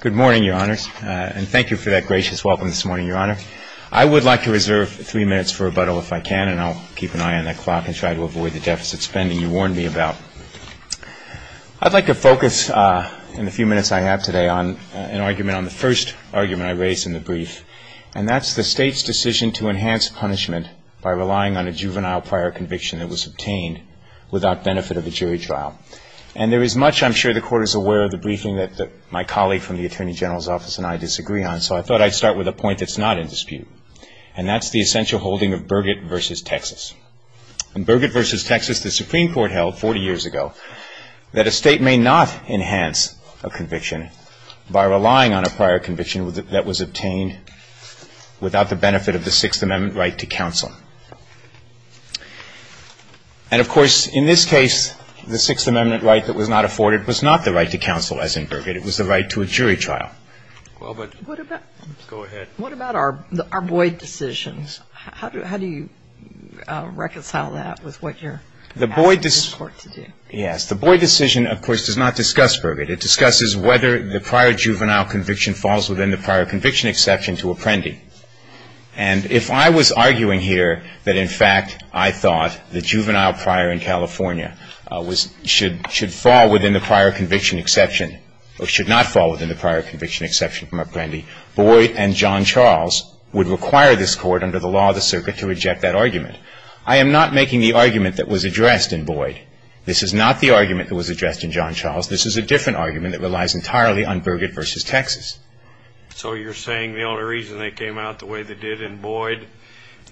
Good morning, Your Honors, and thank you for that gracious welcome this morning, Your Honor. I would like to reserve three minutes for rebuttal if I can, and I'll keep an eye on the clock and try to avoid the deficit spending you warned me about. I'd like to focus in the few minutes I have today on an argument, on the first argument I raised in the brief, and that's the State's decision to enhance punishment by relying on a juvenile prior conviction that was obtained without benefit of a jury trial. And there is much I'm sure the Court is aware of the briefing that my colleague from the Attorney General's Office and I disagree on, so I thought I'd start with a point that's not in dispute, and that's the essential holding of Burgett v. Texas. In Burgett v. Texas, the Supreme Court held 40 years ago that a State may not enhance a conviction by relying on a prior conviction that was obtained without the benefit of the Sixth Amendment right to counsel. And, of course, in this case, the Sixth Amendment right that was not afforded was not the right to counsel, as in Burgett. It was the right to a jury trial. Go ahead. What about our Boyd decision? How do you reconcile that with what you're asking the Court to do? Yes. The Boyd decision, of course, does not discuss Burgett. It discusses whether the prior juvenile conviction falls within the prior conviction exception to Apprendi. And if I was arguing here that, in fact, I thought the juvenile prior in California should fall within the prior conviction exception or should not fall within the prior conviction exception from Apprendi, Boyd and John Charles would require this Court under the law of the circuit to reject that argument. I am not making the argument that was addressed in Boyd. This is not the argument that was addressed in John Charles. This is a different argument that relies entirely on Burgett v. Texas. So you're saying the only reason they came out the way they did in Boyd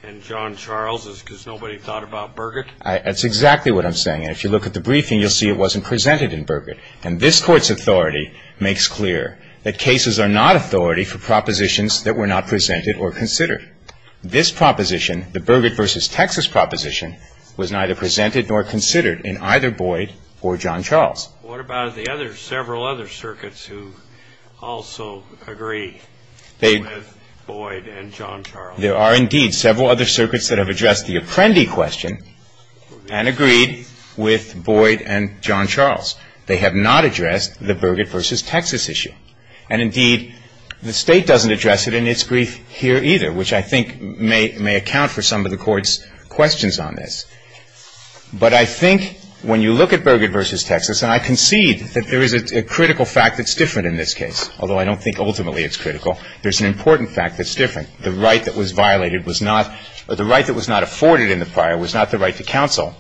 and John Charles is because nobody thought about Burgett? That's exactly what I'm saying. And if you look at the briefing, you'll see it wasn't presented in Burgett. And this Court's authority makes clear that cases are not authority for propositions that were not presented or considered. This proposition, the Burgett v. Texas proposition, was neither presented nor considered in either Boyd or John Charles. What about the other several other circuits who also agree with Boyd and John Charles? There are, indeed, several other circuits that have addressed the Apprendi question and agreed with Boyd and John Charles. They have not addressed the Burgett v. Texas issue. And, indeed, the State doesn't address it in its brief here either, which I think may account for some of the Court's questions on this. But I think when you look at Burgett v. Texas, and I concede that there is a critical fact that's different in this case, although I don't think ultimately it's critical, there's an important fact that's different. The right that was violated was not or the right that was not afforded in the fire was not the right to counsel.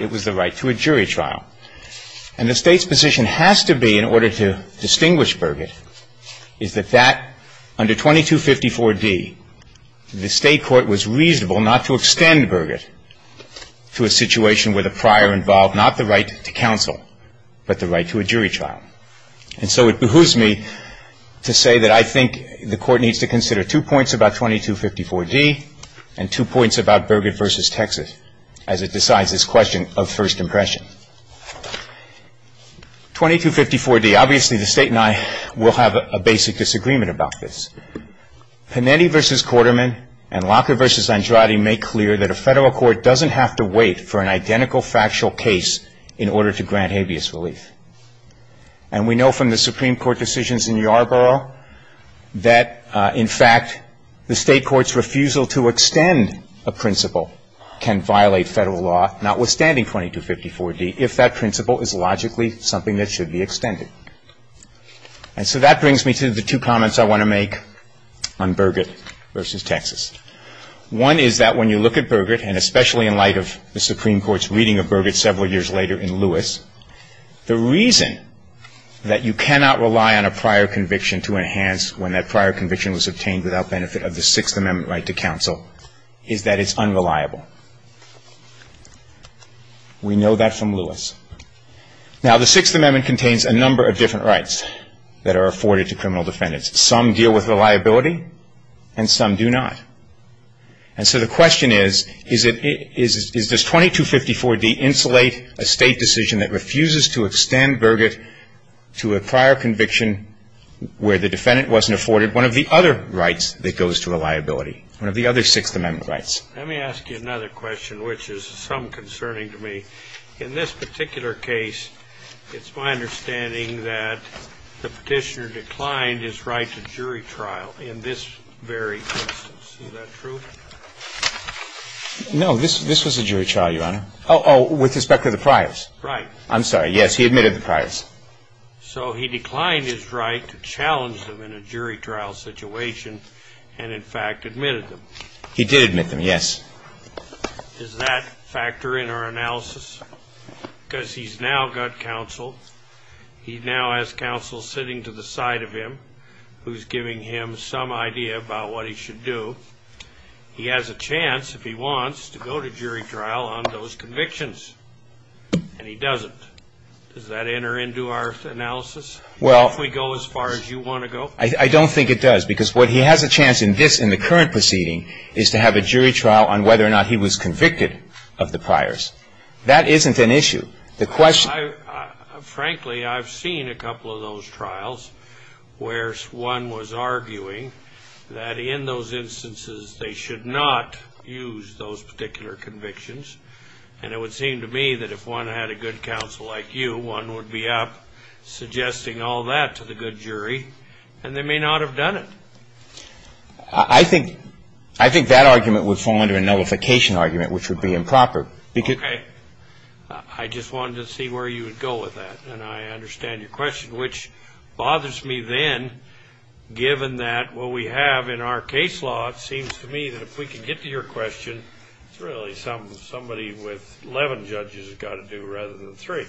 It was the right to a jury trial. And the State's position has to be, in order to distinguish Burgett, is that under 2254d, the State court was reasonable not to extend Burgett to a situation where the prior involved not the right to counsel, but the right to a jury trial. And so it behooves me to say that I think the Court needs to consider two points about 2254d and two points about Burgett v. Texas as it decides this question of first impression. 2254d, obviously the State and I will have a basic disagreement about this. Panetti v. Quarterman and Locker v. Andrade make clear that a Federal court doesn't have to wait for an identical factual case in order to grant habeas relief. And we know from the Supreme Court decisions in Yarborough that, in fact, the State court's refusal to extend a principle can violate Federal law, notwithstanding 2254d, if that principle is logically something that should be extended. And so that brings me to the two comments I want to make on Burgett v. Texas. One is that when you look at Burgett, and especially in light of the Supreme Court's reading of Burgett several years later in Lewis, the reason that you cannot rely on a prior conviction to enhance when that prior conviction was obtained without benefit of the Sixth Amendment right to counsel is that it's unreliable. We know that from Lewis. Now, the Sixth Amendment contains a number of different rights that are afforded to criminal defendants. Some deal with reliability and some do not. And so the question is, is this 2254d insulate a State decision that refuses to extend Burgett to a prior conviction where the defendant wasn't afforded one of the other rights that goes to reliability, one of the other Sixth Amendment rights? Let me ask you another question, which is some concerning to me. In this particular case, it's my understanding that the Petitioner declined his right to jury trial in this very instance. Is that true? No. This was a jury trial, Your Honor. Oh, oh, with respect to the priors. Right. I'm sorry. Yes, he admitted the priors. So he declined his right to challenge them in a jury trial situation and, in fact, admitted them. He did admit them, yes. Does that factor in our analysis? Because he's now got counsel, he now has counsel sitting to the side of him who's giving him some idea about what he should do. He has a chance, if he wants, to go to jury trial on those convictions. And he doesn't. Does that enter into our analysis, if we go as far as you want to go? I don't think it does, because what he has a chance in this, in the current proceeding, is to have a jury trial on whether or not he was convicted of the priors. That isn't an issue. The question ---- Frankly, I've seen a couple of those trials where one was arguing that in those instances, they should not use those particular convictions. And it would seem to me that if one had a good counsel like you, one would be up suggesting all that to the good jury, and they may not have done it. I think that argument would fall under a notification argument, which would be improper. Okay. I just wanted to see where you would go with that, and I understand your question, which bothers me then, given that what we have in our case law, it seems to me that if we can get to your question, it's really something somebody with 11 judges has got to do rather than three.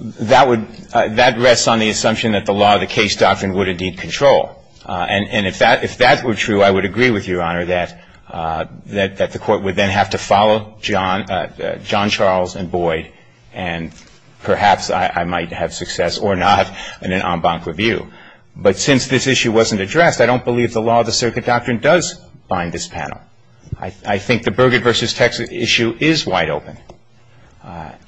That would ---- That rests on the assumption that the law of the case doctrine would indeed control. And if that were true, I would agree with you, Your Honor, that the court would then have to follow John Charles and Boyd, and perhaps I might have success or not in an en banc review. But since this issue wasn't addressed, I don't believe the law of the circuit doctrine does bind this panel. I think the Burgett v. Texas issue is wide open.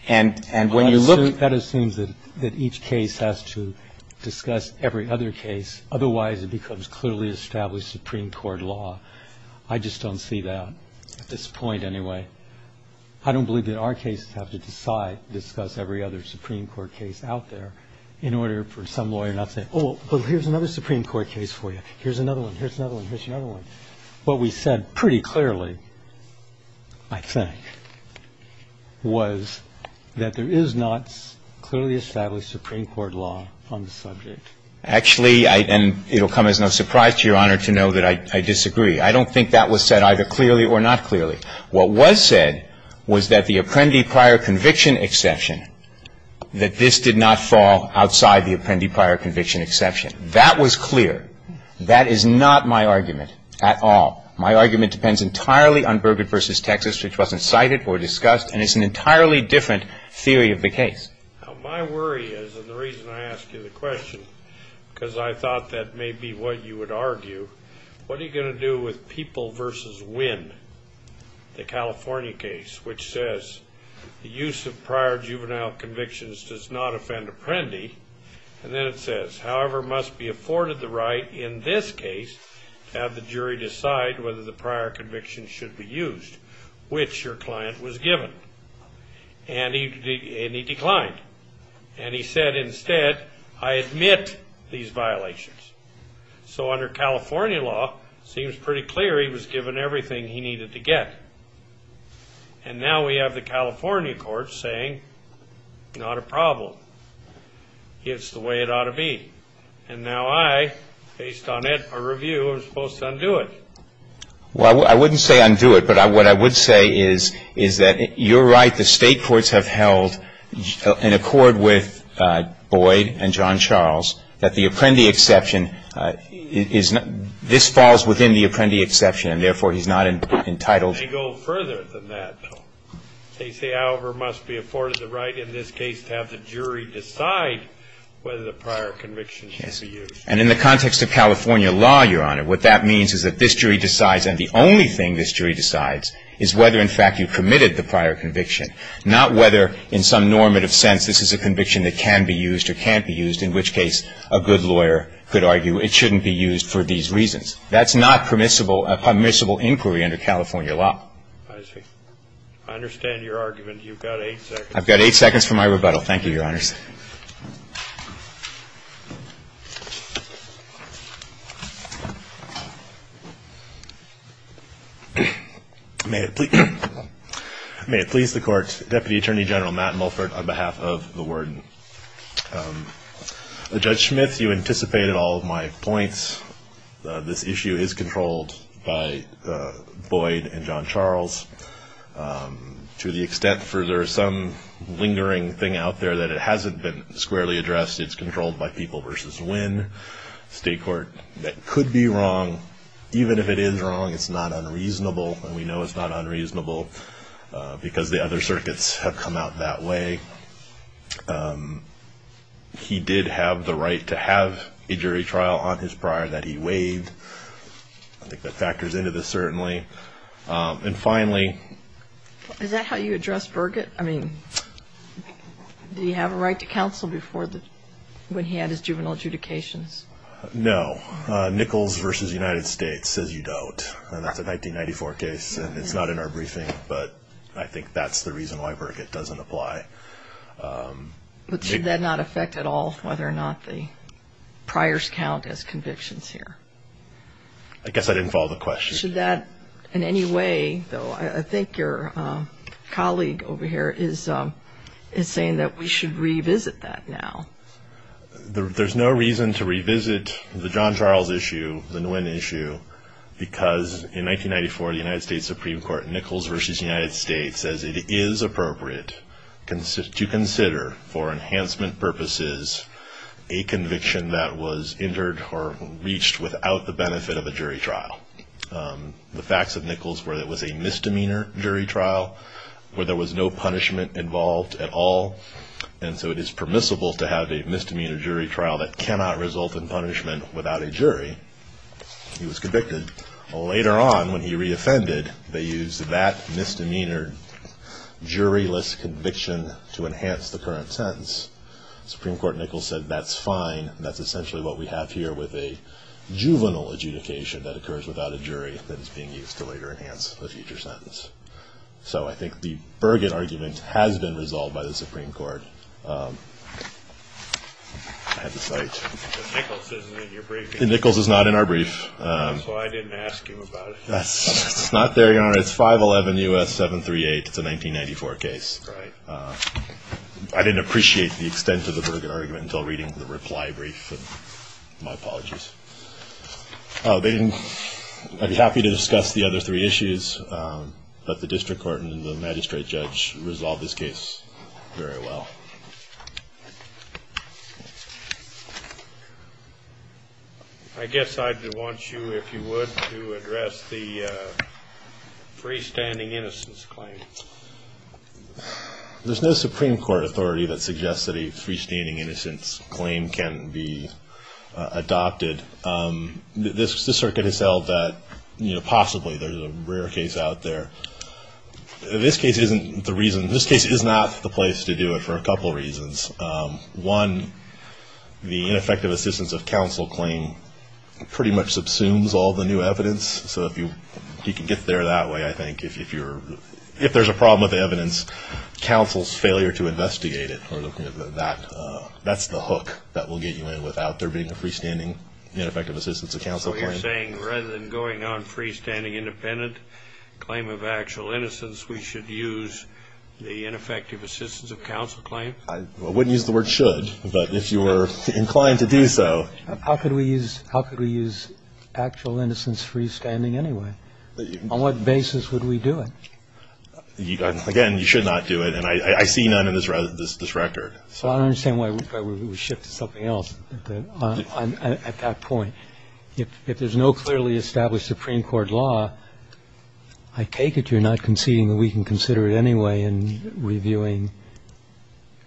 And when you look ---- Well, that assumes that each case has to discuss every other case. Otherwise, it becomes clearly established Supreme Court law. I just don't see that at this point anyway. I don't believe that our cases have to decide, discuss every other Supreme Court case out there in order for some lawyer not to say, Well, here's another Supreme Court case for you. Here's another one. Here's another one. Here's another one. What we said pretty clearly, I think, was that there is not clearly established Supreme Court law on the subject. Actually, I ---- and it will come as no surprise to Your Honor to know that I disagree. I don't think that was said either clearly or not clearly. What was said was that the Apprendi prior conviction exception, that this did not fall outside the Apprendi prior conviction exception. That was clear. That is not my argument at all. My argument depends entirely on Burgett v. Texas, which wasn't cited or discussed, and it's an entirely different theory of the case. My worry is, and the reason I ask you the question, because I thought that may be what you would argue, what are you going to do with people v. win, the California case, which says the use of prior juvenile convictions does not offend Apprendi, and then it says, however, must be afforded the right in this case to have the jury decide whether the prior conviction should be used, which your client was given, and he declined. And he said instead, I admit these violations. So under California law, it seems pretty clear he was given everything he needed to get. And now we have the California court saying, not a problem. It's the way it ought to be. And now I, based on it, a review, am supposed to undo it. Well, I wouldn't say undo it, but what I would say is that you're right. The state courts have held, in accord with Boyd and John Charles, that the Apprendi exception, this falls within the Apprendi exception, and therefore he's not entitled. They go further than that. They say, however, must be afforded the right in this case to have the jury decide whether the prior conviction should be used. And in the context of California law, Your Honor, what that means is that this jury decides, and the only thing this jury decides, is whether, in fact, you permitted the prior conviction, not whether in some normative sense this is a conviction that can be used or can't be used, in which case a good lawyer could argue it shouldn't be used for these reasons. That's not permissible, a permissible inquiry under California law. I see. I understand your argument. You've got eight seconds. I've got eight seconds for my rebuttal. Thank you, Your Honors. May it please the Court. Deputy Attorney General Matt Mulford on behalf of the Worden. Judge Smith, you anticipated all of my points. This issue is controlled by Boyd and John Charles to the extent, for there is some lingering thing out there that it hasn't been squarely addressed. It's controlled by People v. Wynne State Court. That could be wrong. Even if it is wrong, it's not unreasonable, and we know it's not unreasonable, because the other circuits have come out that way. He did have the right to have a jury trial on his prior that he waived. I think that factors into this certainly. And finally. Is that how you address Burgett? I mean, did he have a right to counsel when he had his juvenile adjudications? No. Nichols v. United States says you don't, and that's a 1994 case, and it's not in our briefing, but I think that's the reason why Burgett doesn't apply. But should that not affect at all whether or not the priors count as convictions here? I guess I didn't follow the question. Should that in any way, though? I think your colleague over here is saying that we should revisit that now. There's no reason to revisit the John Charles issue, the Nguyen issue, because in 1994 the United States Supreme Court, Nichols v. United States, says it is appropriate to consider for enhancement purposes a conviction that was injured or reached without the benefit of a jury trial. The facts of Nichols were it was a misdemeanor jury trial where there was no punishment involved at all, and so it is permissible to have a misdemeanor jury trial that cannot result in punishment without a jury. He was convicted. Later on, when he reoffended, they used that misdemeanored jury-less conviction to enhance the current sentence. Supreme Court Nichols said that's fine, and that's essentially what we have here with a juvenile adjudication that occurs without a jury that is being used to later enhance a future sentence. So I think the Burgett argument has been resolved by the Supreme Court. I have the slide. Nichols isn't in your briefing. Nichols is not in our brief. That's why I didn't ask him about it. It's not there, Your Honor. It's 511 U.S. 738. It's a 1994 case. Right. I didn't appreciate the extent of the Burgett argument until reading the reply brief. My apologies. I'd be happy to discuss the other three issues, but the district court and the magistrate judge resolved this case very well. I guess I'd want you, if you would, to address the freestanding innocence claim. There's no Supreme Court authority that suggests that a freestanding innocence claim can be adopted. This circuit has held that possibly there's a rare case out there. This case isn't the reason. This case is not the place to do it for a couple reasons. One, the ineffective assistance of counsel claim pretty much subsumes all the new evidence. So if you can get there that way, I think. If there's a problem with the evidence, counsel's failure to investigate it, that's the hook that will get you in without there being a freestanding ineffective assistance of counsel claim. So you're saying rather than going on freestanding independent claim of actual innocence, we should use the ineffective assistance of counsel claim? I wouldn't use the word should, but if you were inclined to do so. How could we use actual innocence freestanding anyway? On what basis would we do it? Again, you should not do it, and I see none in this record. I don't understand why we shift to something else at that point. If there's no clearly established Supreme Court law, I take it you're not conceding that we can consider it anyway in reviewing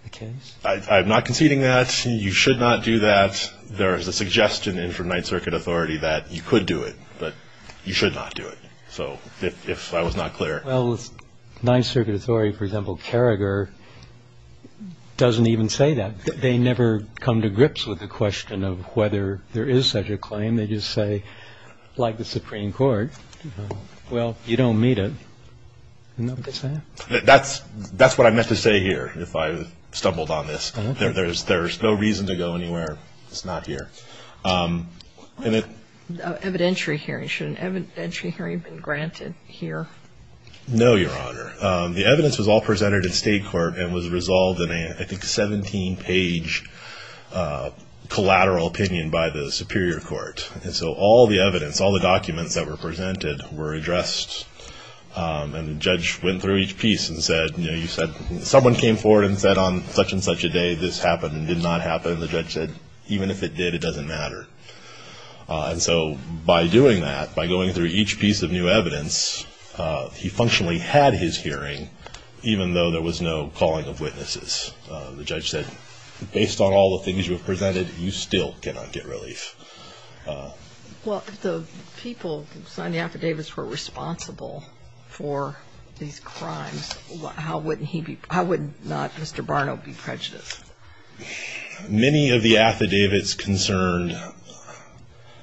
the case? I'm not conceding that. You should not do that. There is a suggestion from Ninth Circuit authority that you could do it, but you should not do it. So if I was not clear. Well, Ninth Circuit authority, for example, Carragher, doesn't even say that. They never come to grips with the question of whether there is such a claim. They just say, like the Supreme Court, well, you don't meet it. Isn't that what they say? That's what I meant to say here if I stumbled on this. There's no reason to go anywhere. It's not here. Evidentiary hearing. Should an evidentiary hearing have been granted here? No, Your Honor. The evidence was all presented in state court and was resolved in a, I think, 17-page collateral opinion by the Superior Court. And so all the evidence, all the documents that were presented were addressed, and the judge went through each piece and said, you know, you said someone came forward and said on such and such a day this happened and did not happen, and the judge said, even if it did, it doesn't matter. And so by doing that, by going through each piece of new evidence, he functionally had his hearing, even though there was no calling of witnesses. The judge said, based on all the things you have presented, you still cannot get relief. Well, if the people who signed the affidavits were responsible for these crimes, how would not Mr. Barnow be prejudiced? Many of the affidavits concerned,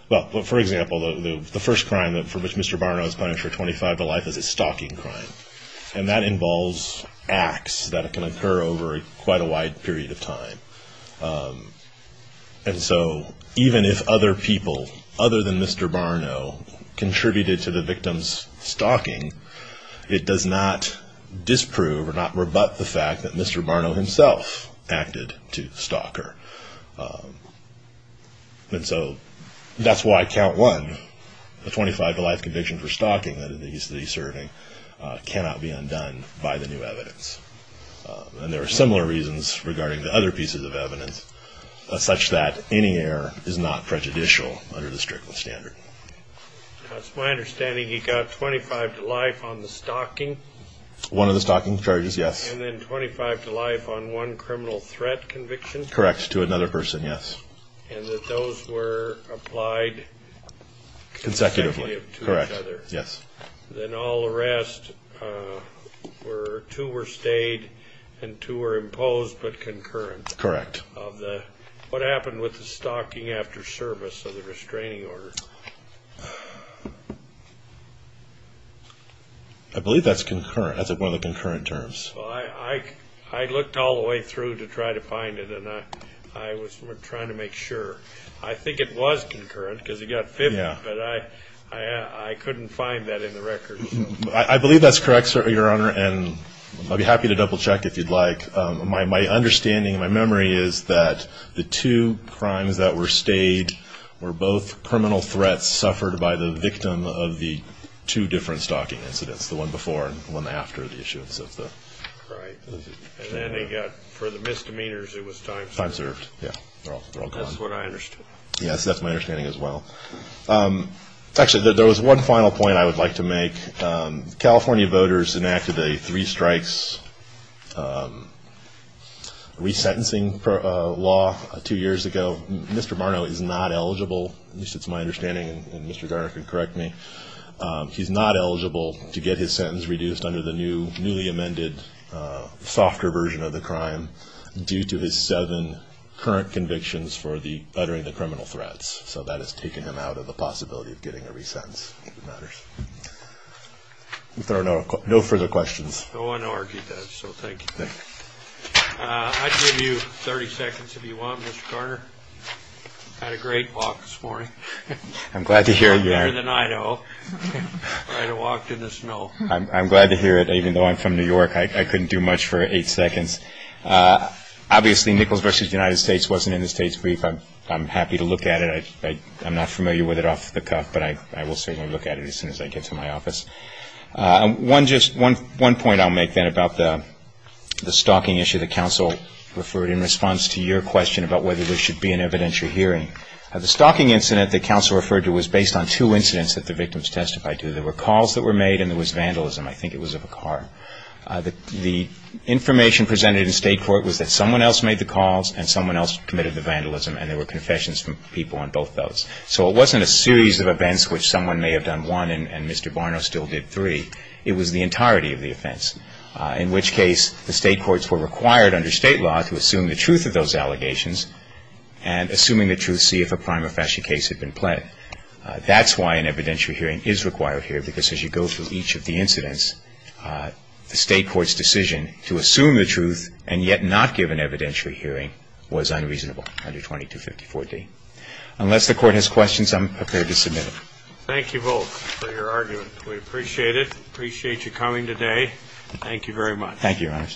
well, for example, the first crime for which Mr. Barnow is punished for 25 to life is a stalking crime, and that involves acts that can occur over quite a wide period of time. And so even if other people other than Mr. Barnow contributed to the victim's stalking, it does not disprove or not rebut the fact that Mr. Barnow himself acted to stalk her. And so that's why count one, the 25 to life conviction for stalking that he's serving cannot be undone by the new evidence. And there are similar reasons regarding the other pieces of evidence, such that any error is not prejudicial under the Strickland standard. It's my understanding he got 25 to life on the stalking? One of the stalking charges, yes. And then 25 to life on one criminal threat conviction? Correct, to another person, yes. And that those were applied consecutively to each other? Consecutively, correct, yes. Then all the rest, two were stayed and two were imposed but concurrent? Correct. What happened with the stalking after service of the restraining order? I believe that's one of the concurrent terms. I looked all the way through to try to find it, and I was trying to make sure. I think it was concurrent because he got 50, but I couldn't find that in the records. I believe that's correct, Your Honor, and I'd be happy to double-check if you'd like. My understanding and my memory is that the two crimes that were stayed were both criminal threats suffered by the victim of the two different stalking incidents, the one before and the one after the issuance of the restraining order. Right. And then they got, for the misdemeanors, it was time served? Time served, yes. They're all gone. That's what I understood. Yes, that's my understanding as well. Actually, there was one final point I would like to make. California voters enacted a three-strikes resentencing law two years ago. Mr. Marno is not eligible, at least it's my understanding, and Mr. Garner can correct me. He's not eligible to get his sentence reduced under the newly amended, softer version of the crime due to his seven current convictions for the uttering the criminal threats. So that has taken him out of the possibility of getting a resentence, if it matters. If there are no further questions. No one argued that, so thank you. Thank you. I'd give you 30 seconds if you want, Mr. Garner. I had a great walk this morning. I'm glad to hear it. You walked better than I do. I walked in the snow. I'm glad to hear it. Even though I'm from New York, I couldn't do much for eight seconds. Obviously, Nichols v. United States wasn't in the state's brief. I'm happy to look at it. I'm not familiar with it off the cuff, but I will certainly look at it as soon as I get to my office. One point I'll make then about the stalking issue that counsel referred in response to your question about whether there should be an evidentiary hearing. The stalking incident that counsel referred to was based on two incidents that the victims testified to. There were calls that were made and there was vandalism. I think it was of a car. The information presented in state court was that someone else made the calls and someone else committed the vandalism and there were confessions from people on both those. So it wasn't a series of events which someone may have done one and Mr. Barno still did three. It was the entirety of the offense, in which case the state courts were required under state law to assume the truth of those allegations and assuming the truth, see if a prima facie case had been pled. That's why an evidentiary hearing is required here because as you go through each of the incidents, the state court's decision to assume the truth and yet not give an evidentiary hearing was unreasonable under 2254D. Unless the court has questions, I'm prepared to submit it. Thank you both for your argument. We appreciate it. Appreciate you coming today. Thank you very much. Thank you, Your Honor.